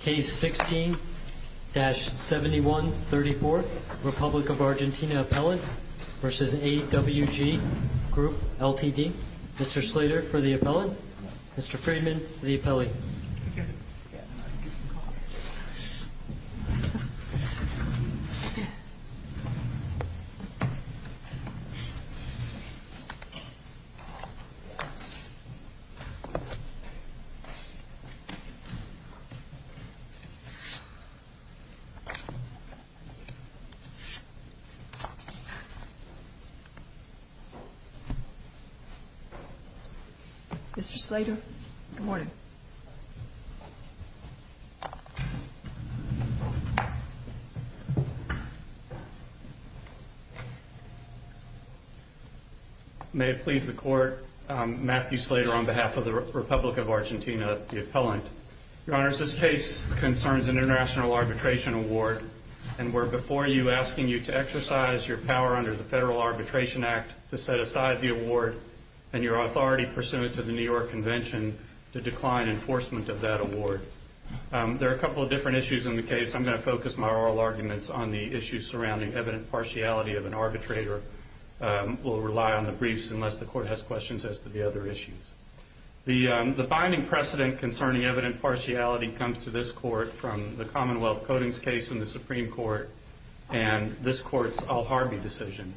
Case 16-7134, Republic of Argentina Appellant v. AWG Group Ltd Mr. Slater for the Appellant, Mr. Freeman for the Appellant Mr. Slater, good morning. May it please the Court, Matthew Slater on behalf of the Republic of Argentina, the Appellant. Your Honors, this case concerns an international arbitration award and we're before you asking you to exercise your power under the Federal Arbitration Act to set aside the award and your authority pursuant to the New York Convention to decline enforcement of that award. There are a couple of different issues in the case. I'm going to focus my oral arguments on the issues surrounding evident partiality of an arbitrator. We'll rely on the briefs unless the Court has questions as to the other issues. The binding precedent concerning evident partiality comes to this Court from the Commonwealth Harvey decision.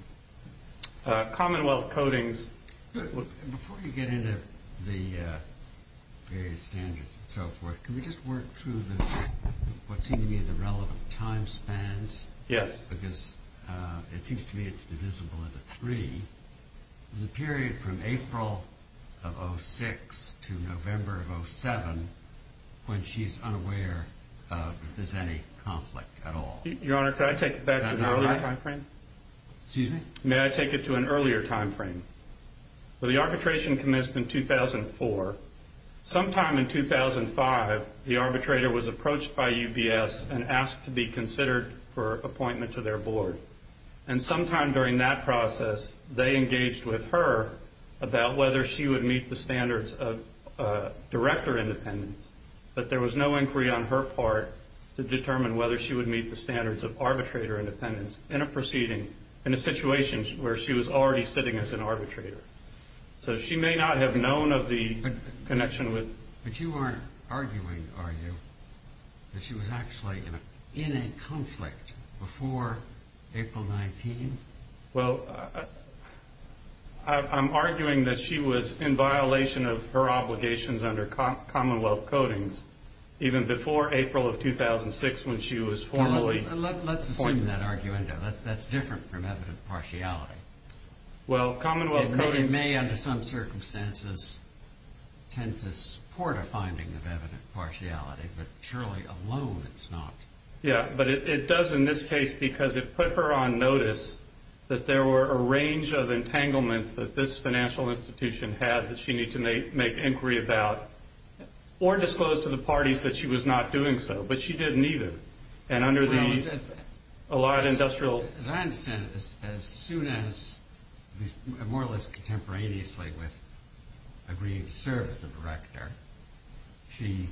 Commonwealth Codings, before you get into the various standards and so forth, can we just work through what seem to be the relevant time spans because it seems to me it's divisible into three. The period from April of 06 to November of 07 when she's unaware of if there's any conflict at all. Your Honor, can I take it back to an earlier time frame? May I take it to an earlier time frame? The arbitration commenced in 2004. Sometime in 2005, the arbitrator was approached by UBS and asked to be considered for appointment to their board. Sometime during that process, they engaged with her about whether she would meet the standards of director independence, but there was no inquiry on her part to determine whether she would meet the standards of arbitrator independence in a proceeding, in a situation where she was already sitting as an arbitrator. So she may not have known of the connection with... But you aren't arguing, are you, that she was actually in a conflict before April 19? Well, I'm arguing that she was in violation of her obligations under commonwealth codings even before April of 2006 when she was formally appointed. Let's assume that argument. That's different from evident partiality. Well, commonwealth codings... It may, under some circumstances, tend to support a finding of evident partiality, but surely alone it's not. Yeah, but it does in this case because it put her on notice that there were a range of entanglements that this financial institution had that she needed to make inquiry about or disclose to the parties that she was not doing so, but she didn't either. And under the... Well, as I understand it, as soon as, more or less contemporaneously with agreeing to the conditions, she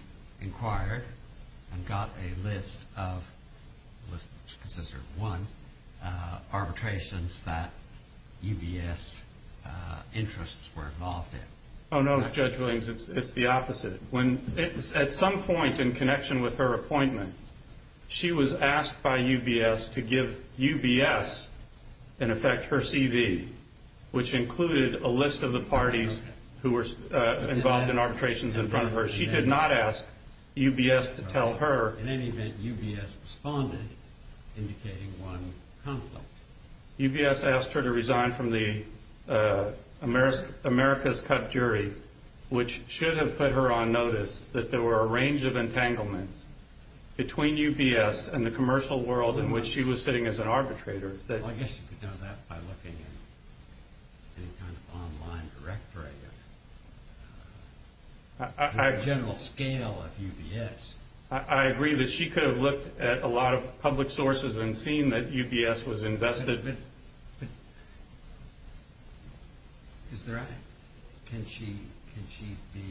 got a list of, let's consider one, arbitrations that UBS interests were involved in. Oh, no, Judge Williams, it's the opposite. At some point in connection with her appointment, she was asked by UBS to give UBS, in effect, her CV, which included a list of the parties who were involved in arbitrations in front of her. She did not ask UBS to tell her... In any event, UBS responded, indicating one conflict. UBS asked her to resign from the America's Cut jury, which should have put her on notice that there were a range of entanglements between UBS and the commercial world in which she was sitting as an arbitrator that... I agree that she could have looked at a lot of public sources and seen that UBS was invested... Is there... Can she be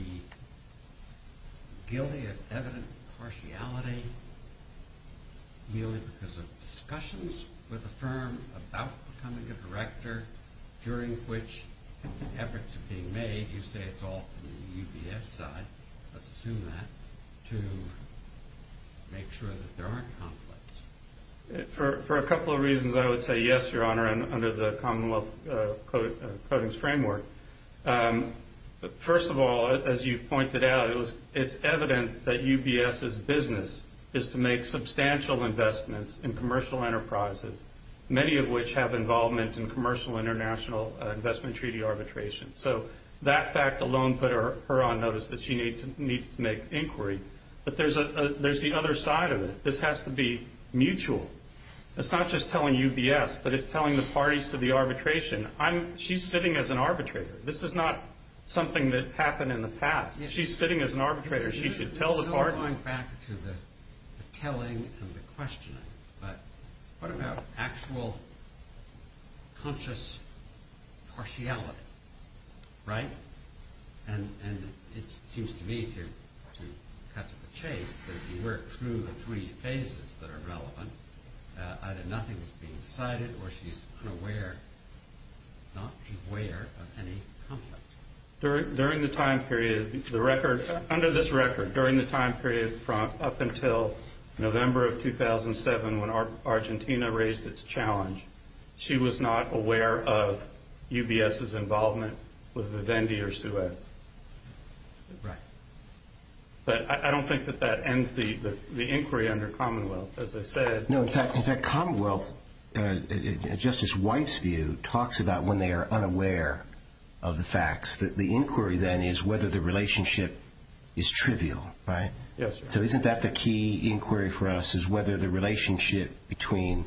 guilty of evident partiality, merely because of discussions with the firm about becoming a director, during which efforts are being made, you say it's all from the UBS side, let's assume that, to make sure that there aren't conflicts? For a couple of reasons, I would say yes, Your Honor, and under the Commonwealth Codings Framework. First of all, as you've pointed out, it's evident that UBS's business is to make substantial investments in commercial enterprises, many of which have involvement in commercial international investment treaty arbitration. That fact alone put her on notice that she needed to make inquiry, but there's the other side of it. This has to be mutual. It's not just telling UBS, but it's telling the parties to the arbitration. She's sitting as an arbitrator. This is not something that happened in the past. She's sitting as an arbitrator. It's the telling and the questioning, but what about actual conscious partiality, right? It seems to me, to cut to the chase, that if you work through the three phases that are relevant, either nothing is being decided, or she's unaware, not aware of any conflict. Under this record, during the time period up until November of 2007 when Argentina raised its challenge, she was not aware of UBS's involvement with Vivendi or Suez, but I don't think that that ends the inquiry under Commonwealth, as I said. No. In fact, Commonwealth, in Justice White's view, talks about when they are unaware of the facts, that the inquiry then is whether the relationship is trivial, right? Yes, Your Honor. Isn't that the key inquiry for us, is whether the relationship between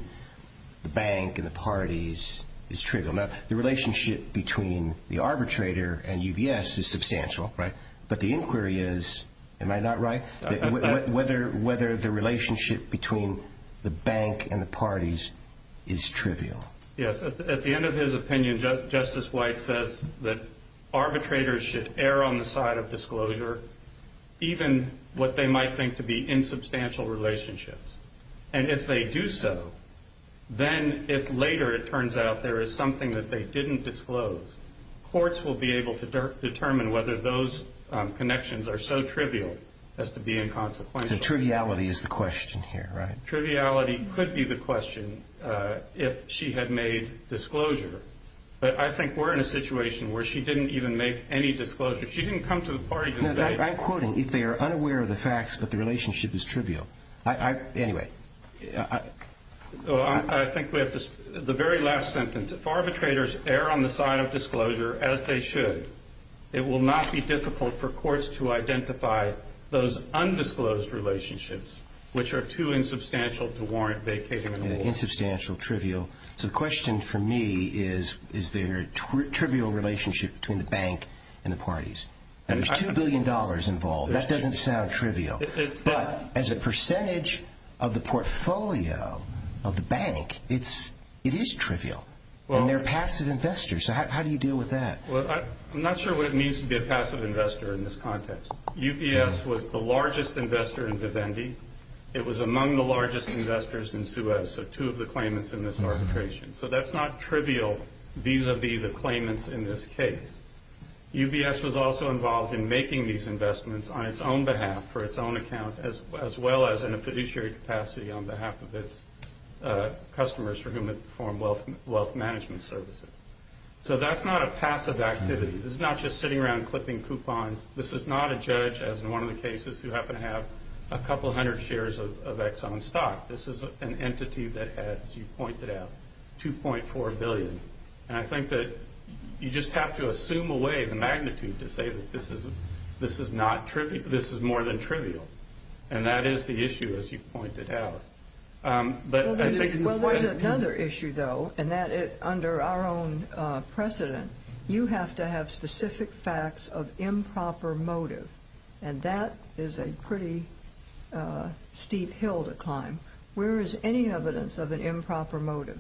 the bank and the parties is trivial? The relationship between the arbitrator and UBS is substantial, but the inquiry is, am I not right, whether the relationship between the bank and the parties is trivial? Yes. At the end of his opinion, Justice White says that arbitrators should err on the side of disclosure, even what they might think to be insubstantial relationships. And if they do so, then if later it turns out there is something that they didn't disclose, courts will be able to determine whether those connections are so trivial as to be inconsequential. So triviality is the question here, right? Triviality could be the question if she had made disclosure. But I think we're in a situation where she didn't even make any disclosure. She didn't come to the parties and say... No, I'm quoting. If they are unaware of the facts, but the relationship is trivial. Anyway... I think we have to... The very last sentence. If arbitrators err on the side of disclosure as they should, it will not be difficult for courts to identify those undisclosed relationships, which are too insubstantial to warrant vacating the war. Insubstantial, trivial. So the question for me is, is there a trivial relationship between the bank and the parties? There's $2 billion involved. That doesn't sound trivial. But as a percentage of the portfolio of the bank, it is trivial. And they're passive investors. So how do you deal with that? Well, I'm not sure what it means to be a passive investor in this context. UPS was the largest investor in Vivendi. It was among the largest investors in Suez, so two of the claimants in this arbitration. So that's not trivial vis-a-vis the claimants in this case. UBS was also involved in making these investments on its own behalf, for its own account, as well as in a fiduciary capacity on behalf of its customers for whom it performed wealth management services. So that's not a passive activity. This is not just sitting around investors who happen to have a couple hundred shares of Exxon stock. This is an entity that has, as you pointed out, $2.4 billion. And I think that you just have to assume away the magnitude to say that this is not trivial. This is more than trivial. And that is the issue, as you've pointed out. But there's another issue, though, and that is, under our own precedent, you have to have is a pretty steep hill to climb. Where is any evidence of an improper motive?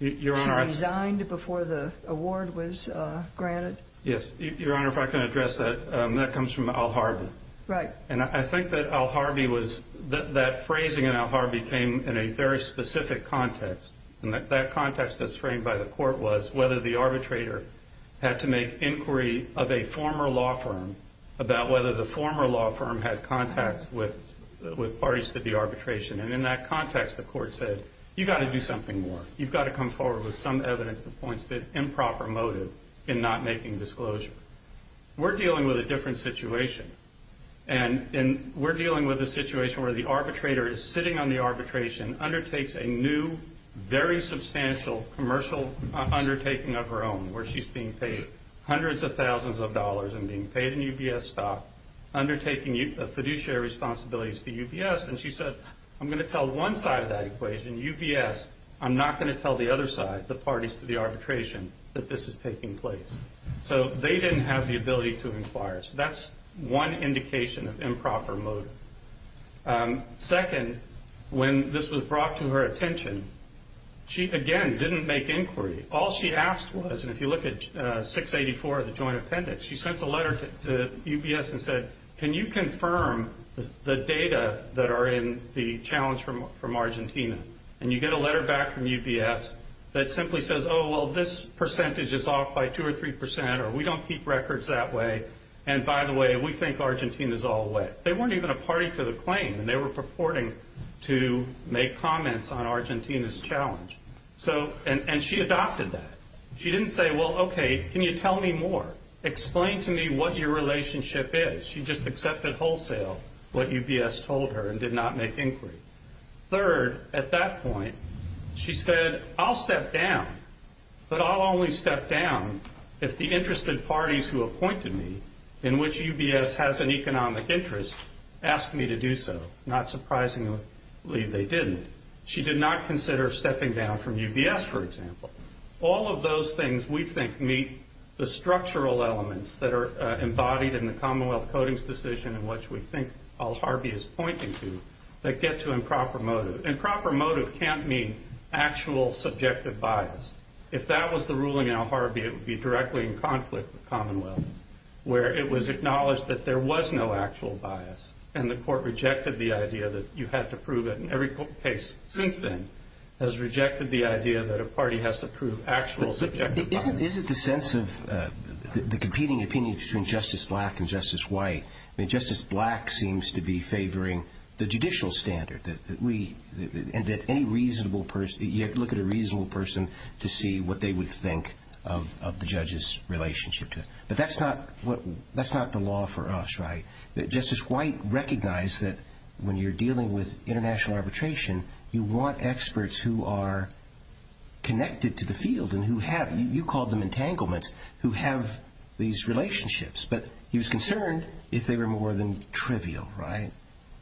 Your Honor, I... It was resigned before the award was granted? Yes. Your Honor, if I can address that, that comes from Al Harvey. Right. And I think that Al Harvey was... That phrasing in Al Harvey came in a very specific context. And that context that's framed by the court was whether the arbitrator had to make inquiry of a former law firm about whether the former law firm had contacts with parties to the arbitration. And in that context, the court said, you've got to do something more. You've got to come forward with some evidence that points to improper motive in not making disclosure. We're dealing with a different situation. And we're dealing with a situation where the arbitrator is sitting on the arbitration, undertakes a new, very substantial commercial undertaking of her own, where she's being paid hundreds of thousands of dollars and being paid in UBS stock, undertaking fiduciary responsibilities to UBS. And she said, I'm going to tell one side of that equation, UBS, I'm not going to tell the other side, the parties to the arbitration, that this is taking place. So they didn't have the ability to inquire. So that's one indication of improper motive. Second, when this was brought to her attention, she, again, didn't make inquiry. All she asked was, and if you look at 684, the joint appendix, she sent a letter to UBS and said, can you confirm the data that are in the challenge from Argentina? And you get a letter back from UBS that simply says, oh, well, this percentage is off by 2 or 3 percent, or we don't keep records that way. And by the way, we think Argentina's all wet. They weren't even a party to the claim, and they were purporting to make comments on Argentina's challenge. And she adopted that. She didn't say, well, OK, can you tell me more? Explain to me what your relationship is. She just accepted wholesale what UBS told her and did not make inquiry. Third, at that point, she said, I'll step down, but I'll only step down if the interested parties who appointed me, in which UBS has an economic interest, ask me to do so. Not surprisingly, they didn't. She did not consider stepping down from UBS, for example. All of those things, we think, meet the structural elements that are embodied in the Commonwealth Codings decision in which we think Al Harvey is pointing to that get to improper motive. Improper motive can't mean actual subjective bias. If that was the ruling in Al Harvey, it would be directly in conflict with Commonwealth, where it was acknowledged that there was no actual bias. And the court rejected the idea that you had to prove it. And every case since then has rejected the idea that a party has to prove actual subjective bias. Isn't the sense of the competing opinions between Justice Black and Justice White, I mean, Justice Black seems to be favoring the judicial standard, that we, and that any reasonable person, you have to look at a reasonable person to see what they would think of the judge's relationship to it. But that's not the law for us, right? Justice White recognized that when you're dealing with international arbitration, you want experts who are connected to the field and who have, you called them entanglements, who have these relationships. But he was concerned if they were more than trivial, right?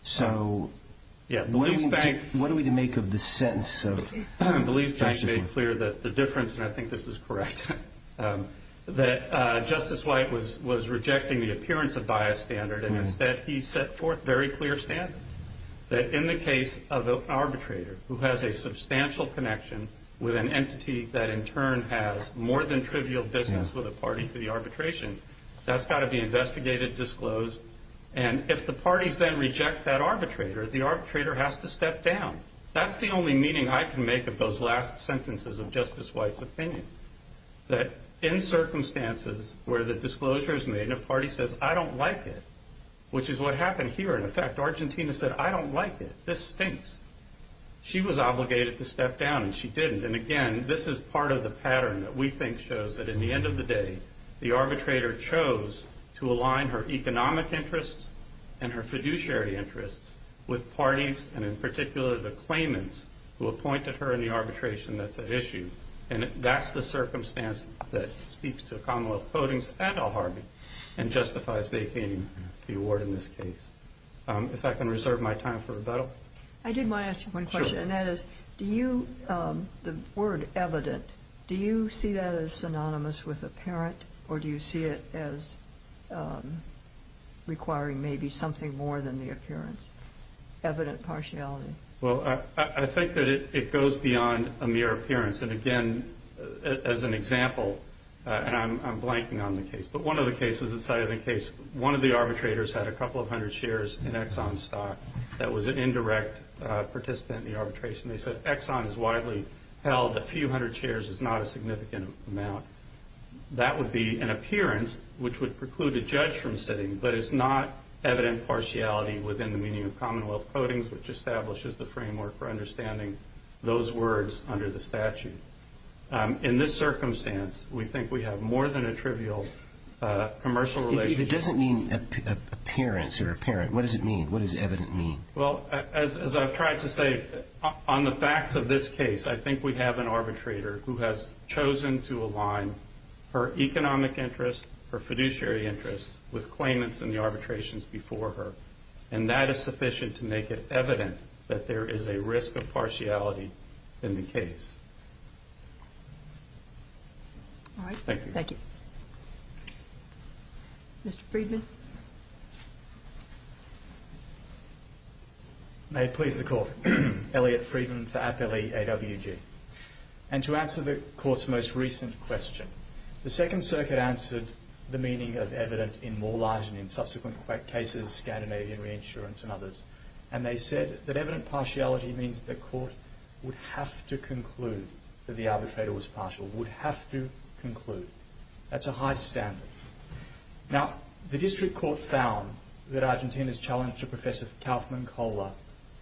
So what do we make of the sentence of Justice White? I believe I made clear that the difference, and I think this is correct, that Justice White was rejecting the appearance of bias standard, and instead he set forth very clear standards. That in the case of an arbitrator who has a substantial connection with an entity that in turn has more than trivial business with a party for the arbitration, that's got to be investigated, disclosed. And if the only meaning I can make of those last sentences of Justice White's opinion, that in circumstances where the disclosure is made and a party says, I don't like it, which is what happened here in effect, Argentina said, I don't like it, this stinks. She was obligated to step down and she didn't. And again, this is part of the pattern that we think shows that in the end of the day, the arbitrator chose to align her economic interests and her fiduciary interests with parties, and in particular the claimants who appointed her in the arbitration that's at issue. And that's the circumstance that speaks to Commonwealth Codings and Al-Harbi and justifies making the award in this case. If I can reserve my time for rebuttal. I did want to ask you one question, and that is, do you, the word evident, do you see that as synonymous with apparent, or do you see it as requiring maybe something more than the appearance? Evident partiality? Well, I think that it goes beyond a mere appearance. And again, as an example, and I'm blanking on the case, but one of the cases that cited the case, one of the arbitrators had a couple of hundred shares in Exxon stock that was an indirect participant in the arbitration. They said, Exxon is widely held. A few hundred shares is not a significant amount. That would be an appearance which would preclude a judge from sitting, but it's not evident partiality within the meaning of Commonwealth Codings, which establishes the framework for understanding those words under the statute. In this circumstance, we think we have more than a trivial commercial relationship. If it doesn't mean appearance or apparent, what does it mean? What does evident mean? Well, as I've tried to say, on the facts of this case, I think we have an arbitrator who has chosen to align her economic interests, her fiduciary interests with claimants in the arbitrations before her. And that is sufficient to make it evident that there is a risk of partiality in the case. All right. Thank you. Thank you. Mr. Friedman? May it please the Court. Elliot Friedman for Appellee AWG. And to answer the Court's most recent question, the Second Circuit answered the meaning of evident in Morlatt and in subsequent cases, Scandinavian Reinsurance and others, and they said that evident partiality means that the Court would have to conclude that the arbitrator was partial, would have to conclude. That's a high standard. Now, the District Court found that Argentina's challenge to Professor Kaufman-Coler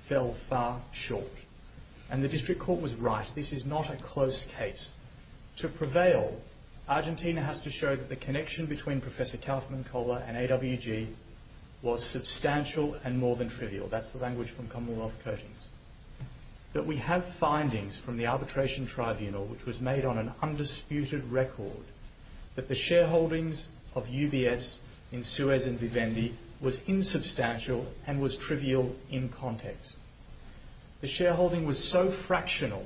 fell far short. And the District Court was right. This is not a close case. To prevail, Argentina has to show that the connection between Professor Kaufman-Coler and AWG was substantial and more than trivial. That's the language from Commonwealth Coatings. That we have findings from the Arbitration Tribunal which was made on an undisputed record that the shareholdings of UBS in Suez and Vivendi was insubstantial and was trivial in context. The shareholding was so fractional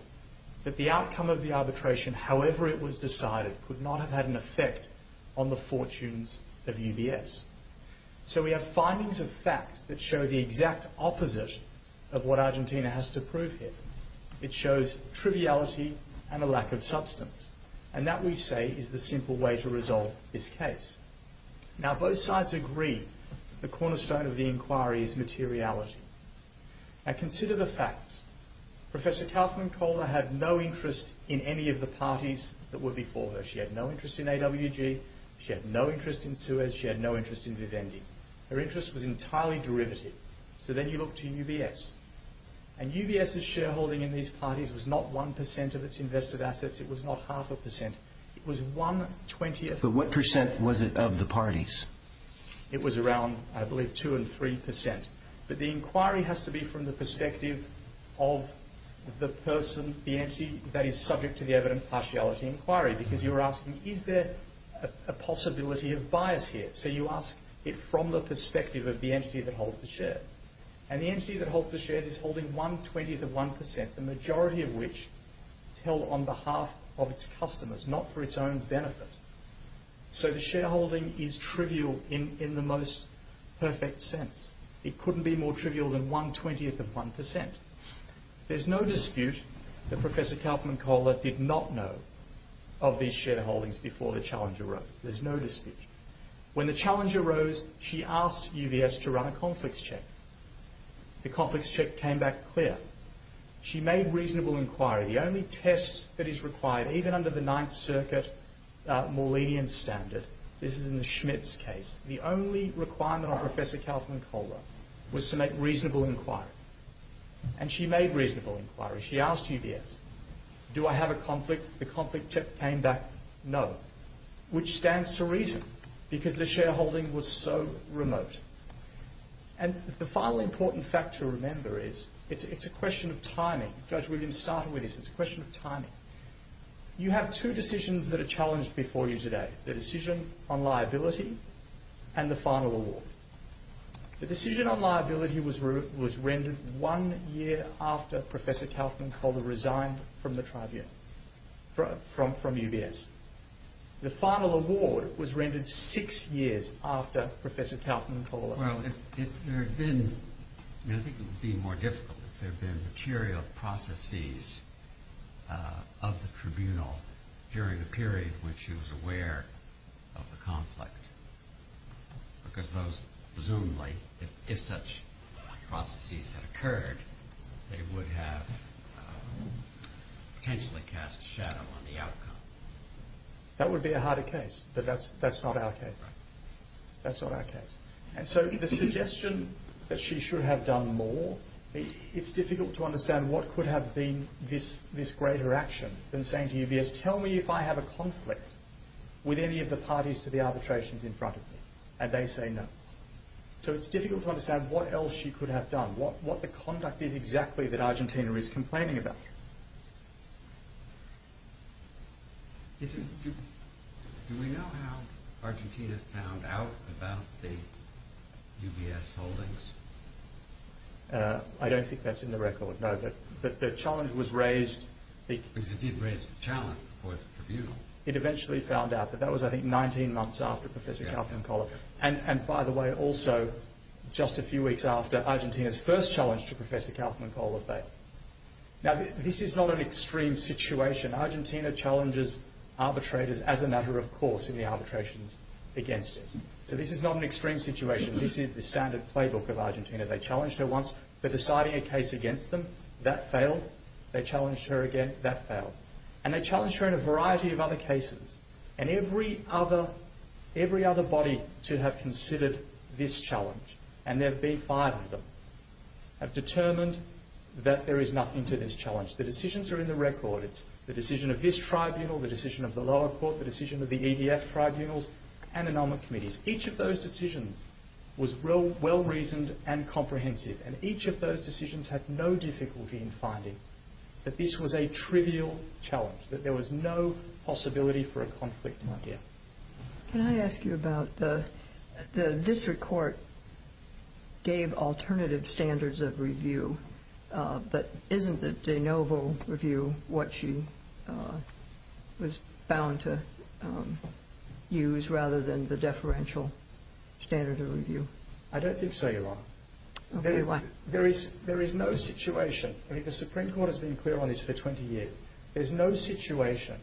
that the outcome of the arbitration, however it was decided, could not have had an effect on the fortunes of UBS. So we have findings of fact that show the exact opposite of what Argentina has to prove here. It shows triviality and a lack of substance. And that, we say, is the simple way to resolve this case. Now, both sides agree that the cornerstone of the inquiry is materiality. Now, consider the facts. Professor Kaufman-Coler had no interest in any of the parties that were before her. She had no interest in AWG. She had no interest in Suez. She had no interest in Vivendi. Her interest was entirely derivative. So then you look to UBS. And UBS's shareholding in these parties was not 1% of its invested assets. It was not half a percent. It was one twentieth of the parties. But what percent was it of the parties? It was around, I believe, 2 and 3%. But the inquiry has to be from the perspective of the person, the entity, that is subject to the evident partiality inquiry. Because you're asking, is there a possibility of bias here? So you ask it from the perspective of the entity that holds the shares. And the entity that holds the shares is holding one twentieth of 1%, the majority of which is held on behalf of its customers, not for its own benefit. So the shareholding is trivial in the most perfect sense. It couldn't be more trivial than one twentieth of 1%. There's no dispute that Professor Kaufman-Coler did not know of these shareholdings before the challenge arose. There's no dispute. When the challenge arose, she asked UBS to run a conflicts check. The conflicts check came back clear. She made reasonable inquiry. The only test that is required, even under the Ninth Circuit Maulidian standard, this is in the Schmitz case, the only requirement on Professor Kaufman-Coler was to make reasonable inquiry. And she made reasonable inquiry. She asked UBS, do I have a conflict? The conflict check came back no, which stands to reason, because the shareholding was so remote. And the final important fact to remember is, it's a question of timing. Judge Williams started with this. It's a question of timing. You have two decisions that are challenged before you today, the decision on liability and the final award. The decision on liability was rendered one year after Professor Kaufman-Coler resigned from UBS. The final award was rendered six years after Professor Kaufman-Coler resigned. Well, if there had been, and I think it would be more difficult, if there had been material processes of the tribunal during the period in which she was aware of the conflict, because those, presumably, if such processes had occurred, they would have potentially cast a shadow on the outcome. That would be a harder case, but that's not our case. And so the suggestion that she should have done more, it's difficult to understand what could have been this greater action than saying to UBS, tell me if I have a conflict with any of the parties to the arbitrations in front of me. And they say no. So it's difficult to understand what else she could have done, what the conduct is exactly that Argentina is complaining about. Do we know how Argentina found out about the UBS holdings? I don't think that's in the record, no, but the challenge was raised. Because it did raise the challenge for the tribunal. It eventually found out, but that was, I think, 19 months after Professor Kaufman-Coler. And by the way, also, just a few weeks after, Argentina's first challenge to Professor Kaufman-Coler failed. Now, this is not an extreme situation. Argentina challenges arbitrators, as a matter of course, in the arbitrations against it. So this is not an extreme situation. This is the standard playbook of Argentina. They challenged her once, but deciding a case against them, that failed. They challenged her again, that failed. And they challenged her in a variety of other cases. And every other body to have considered this challenge, and there have been five of them, have determined that there is nothing to this challenge. The decisions are in the record. It's the decision of this tribunal, the decision of the lower court, the decision of the EDF tribunals, and the NOMA committees. Each of those decisions was well-reasoned and comprehensive, and each of those decisions had no difficulty in finding that this was a trivial challenge, that there was no possibility for a conflict of idea. Can I ask you about the district court gave alternative standards of review, but isn't the de novo review what she was bound to use, rather than the deferential standard of review? I don't think so, Your Honor. Okay, why? There is no situation, I think the Supreme Court has been clear on this for 20 years, there's no situation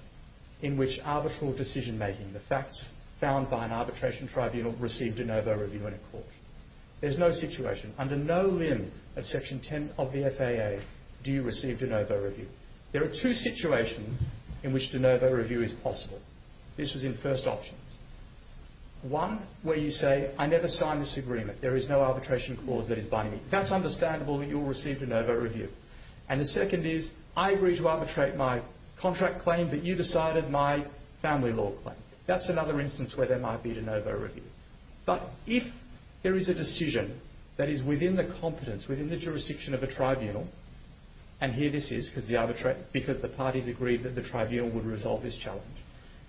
in which arbitral decision-making, the facts found by an arbitration tribunal, receive de novo review in a court. There's no situation, under no limb of section 10 of the FAA, do you receive de novo review. There are two situations in which de novo review is possible. This was in first options. One, where you say, I never signed this agreement, there is no arbitration clause that is binding. That's understandable that you'll receive de novo review. And the second is, I agree to arbitrate my contract claim, but you decided my family law claim. That's another instance where there might be de novo review. But if there is a decision that is within the competence, within the jurisdiction of a tribunal, and here this is because the parties agreed that the tribunal would resolve this challenge.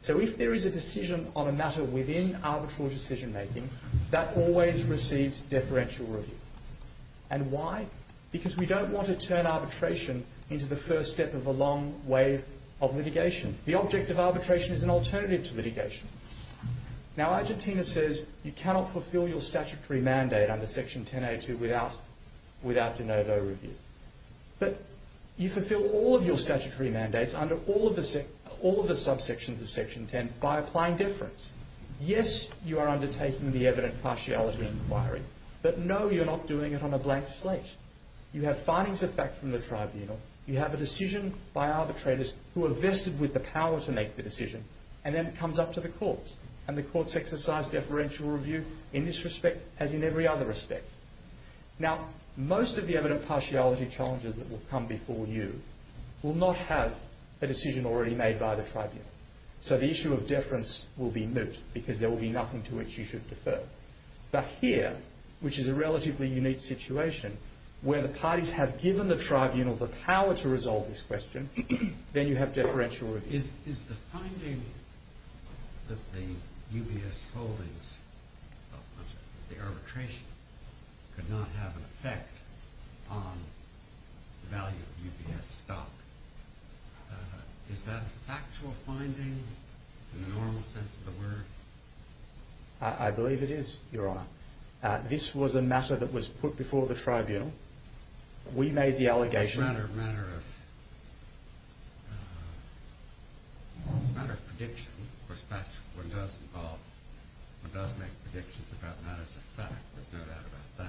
So if there is a decision on a matter within arbitral decision-making, that always receives deferential review. And why? Because we don't want to turn arbitration into the first step of a long wave of litigation. The object of arbitration is an alternative to litigation. Now Argentina says, you cannot fulfill your statutory mandate under section 10A2 without de novo review. But you fulfill all of your statutory mandates under all of the subsections of section 10 by applying deference. Yes, you are undertaking the evident partiality inquiry. But no, you're not doing it on a blank slate. You have findings of fact from the tribunal. You have a decision by arbitrators who are vested with the power to make the decision. And then it comes up to the courts. And the courts exercise deferential review in this respect as in every other respect. Now, most of the evident partiality challenges that will come before you will not have a decision already made by the tribunal. So the issue of deference will be moot because there will be nothing to which you should defer. But here, which is a relatively unique situation, where the parties have given the tribunal the power to resolve this question, then you have deferential review. Is the finding that the UBS holdings of the arbitration could not have an effect on the value of UBS stock, is that a factual finding in the normal sense of the word? I believe it is, Your Honour. This was a matter that was put before the tribunal. We made the allegation... It's a matter of prediction. Of course, one does make predictions about matters of fact. There's no doubt about that.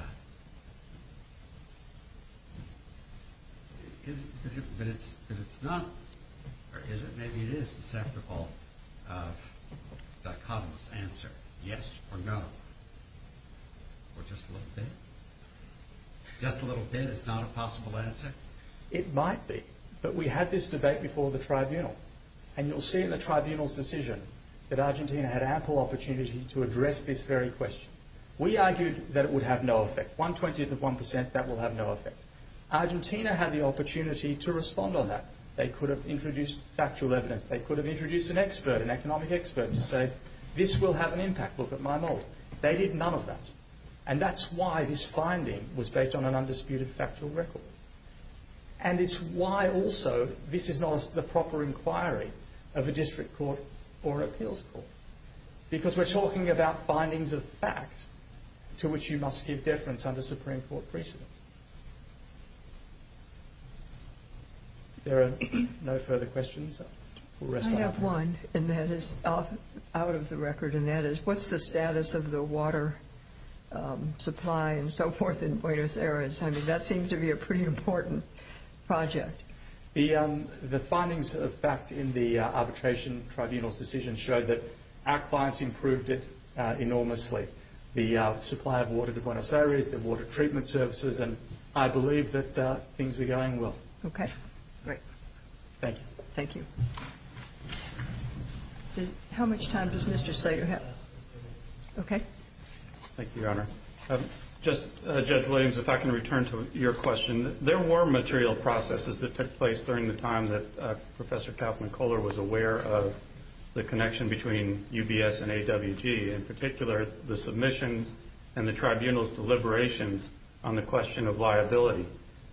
But it's not, or is it? Maybe it is a separable, dichotomous answer. Yes or no? Or just a little bit? Just a little bit is not a possible answer? It might be. But we had this debate before the tribunal. And you'll see in the tribunal's decision that Argentina had ample opportunity to address this very question. We argued that it would have no effect. One twentieth of one percent, that will have no effect. Argentina had the opportunity to respond on that. They could have introduced factual evidence. They could have introduced an expert, an economic expert, to say, this will have an impact, look at my mould. They did none of that. And that's why this finding was based on an undisputed factual record. And it's why also this is not the proper inquiry of a district court or an appeals court. Because we're talking about findings of fact to which you must give deference under Supreme Court precedent. There are no further questions? I have one, and that is out of the record. And that is, what's the status of the water supply and so forth in Buenos Aires? I mean, that seems to be a pretty important project. The findings of fact in the arbitration tribunal's decision show that our clients improved it enormously. The supply of water to Buenos Aires, the water treatment services, and I believe that things are going well. Okay, great. Thank you. How much time does Mr. Slater have? Okay. Thank you, Your Honor. Just, Judge Williams, if I can return to your question. There were material processes that took place during the time that Professor Kauffman Kohler was aware of the connection between UBS and AWG. In particular, the submissions and the tribunal's deliberations on the question of liability.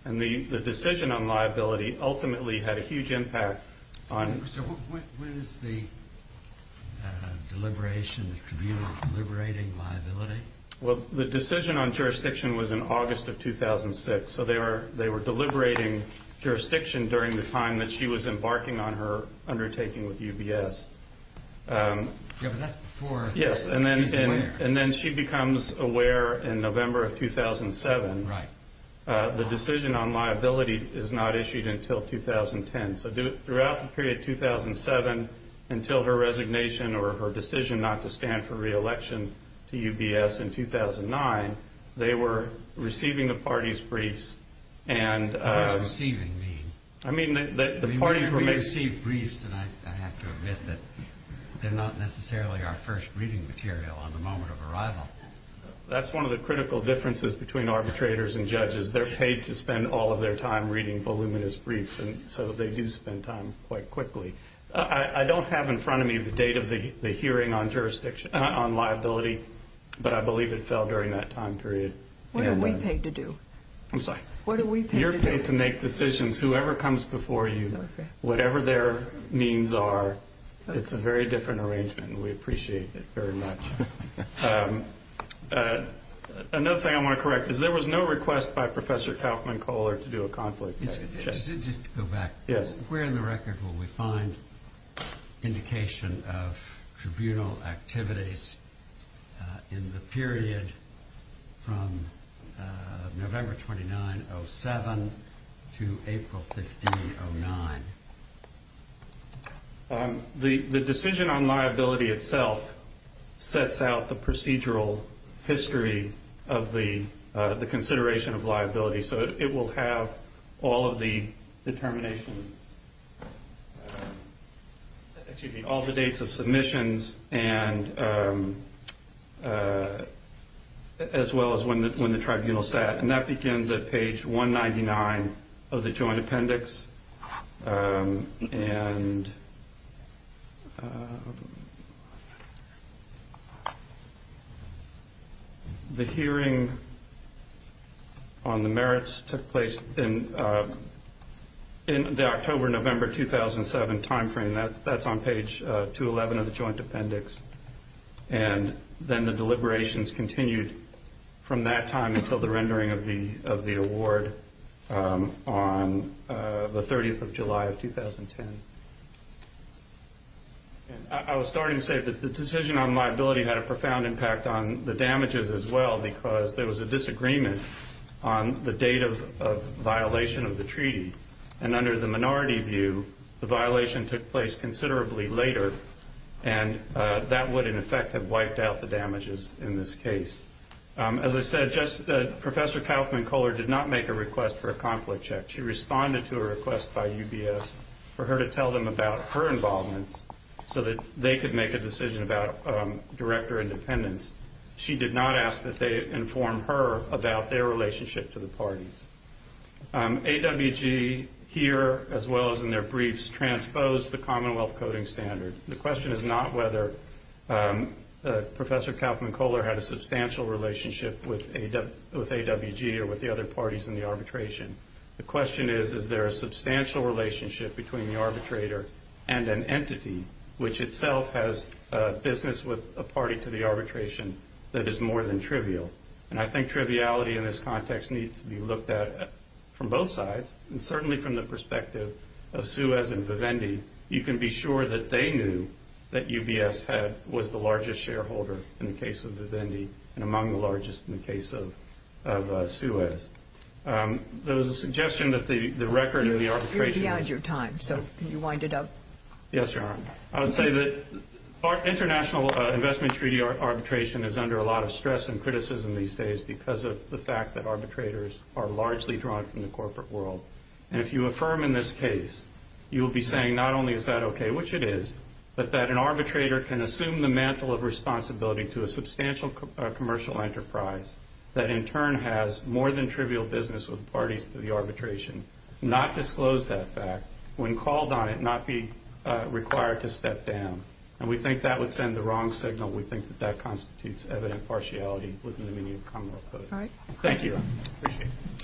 And the decision on liability ultimately had a huge impact on... So when is the deliberation, the tribunal deliberating liability? Well, the decision on jurisdiction was in August of 2006. So they were deliberating jurisdiction during the time that she was embarking on her undertaking with UBS. Yeah, but that's before she's aware. Yes, and then she becomes aware in November of 2007. Right. The decision on liability is not issued until 2010. So throughout the period 2007, until her resignation or her decision not to stand for re-election to UBS in 2009, they were receiving the party's briefs and... What does receiving mean? I mean, the parties were making... I have to admit that they're not necessarily our first reading material on the moment of arrival. That's one of the critical differences between arbitrators and judges. They're paid to spend all of their time reading voluminous briefs, and so they do spend time quite quickly. I don't have in front of me the date of the hearing on liability, but I believe it fell during that time period. What are we paid to do? I'm sorry? You're paid to make decisions. Whoever comes before you, whatever their means are, it's a very different arrangement, and we appreciate it very much. Another thing I want to correct is there was no request by Professor Kaufman Kohler to do a conflict check. Just to go back. Yes. Where in the record will we find indication of tribunal activities in the period from November 2907 to April 1509? The decision on liability itself sets out the procedural history of the consideration of liability. It will have all of the determinations, excuse me, all the dates of submissions as well as when the tribunal sat. That begins at page 199 of the joint appendix. The hearing on the merits took place in the October-November 2007 time frame. That's on page 211 of the joint appendix. Then the deliberations continued from that time until the rendering of the award on the 30th of July of 2010. I was starting to say that the decision on liability had a profound impact on the damages as well because there was a disagreement on the date of violation of the treaty. Under the minority view, the violation took place considerably later, and that would in effect have wiped out the damages in this case. As I said, Professor Kaufman Kohler did not make a request for a conflict check. She responded to a request by UBS for her to tell them about her involvements so that they could make a decision about director independence. She did not ask that they inform her about their relationship to the parties. AWG here, as well as in their briefs, transposed the Commonwealth Coding Standard. The question is not whether Professor Kaufman Kohler had a substantial relationship with AWG or with the other parties in the arbitration. The question is, is there a substantial relationship between the arbitrator and an entity which itself has business with a party to the arbitration that is more than trivial? I think triviality in this context needs to be looked at from both sides and certainly from the perspective of Suez and Vivendi. You can be sure that they knew that UBS was the largest shareholder in the case of Vivendi and among the largest in the case of Suez. There was a suggestion that the record of the arbitration... You're beyond your time, so can you wind it up? Yes, Your Honor. I would say that international investment treaty arbitration is under a lot of stress and criticism these days because of the fact that arbitrators are largely drawn from the corporate world. And if you affirm in this case, you will be saying not only is that okay, which it is, but that an arbitrator can assume the mantle of responsibility to a substantial commercial enterprise that in turn has more than trivial business with parties to the arbitration, not disclose that fact, when called on it not be required to step down. And we think that would send the wrong signal. We think that that constitutes evident partiality within the meaning of common law. Thank you.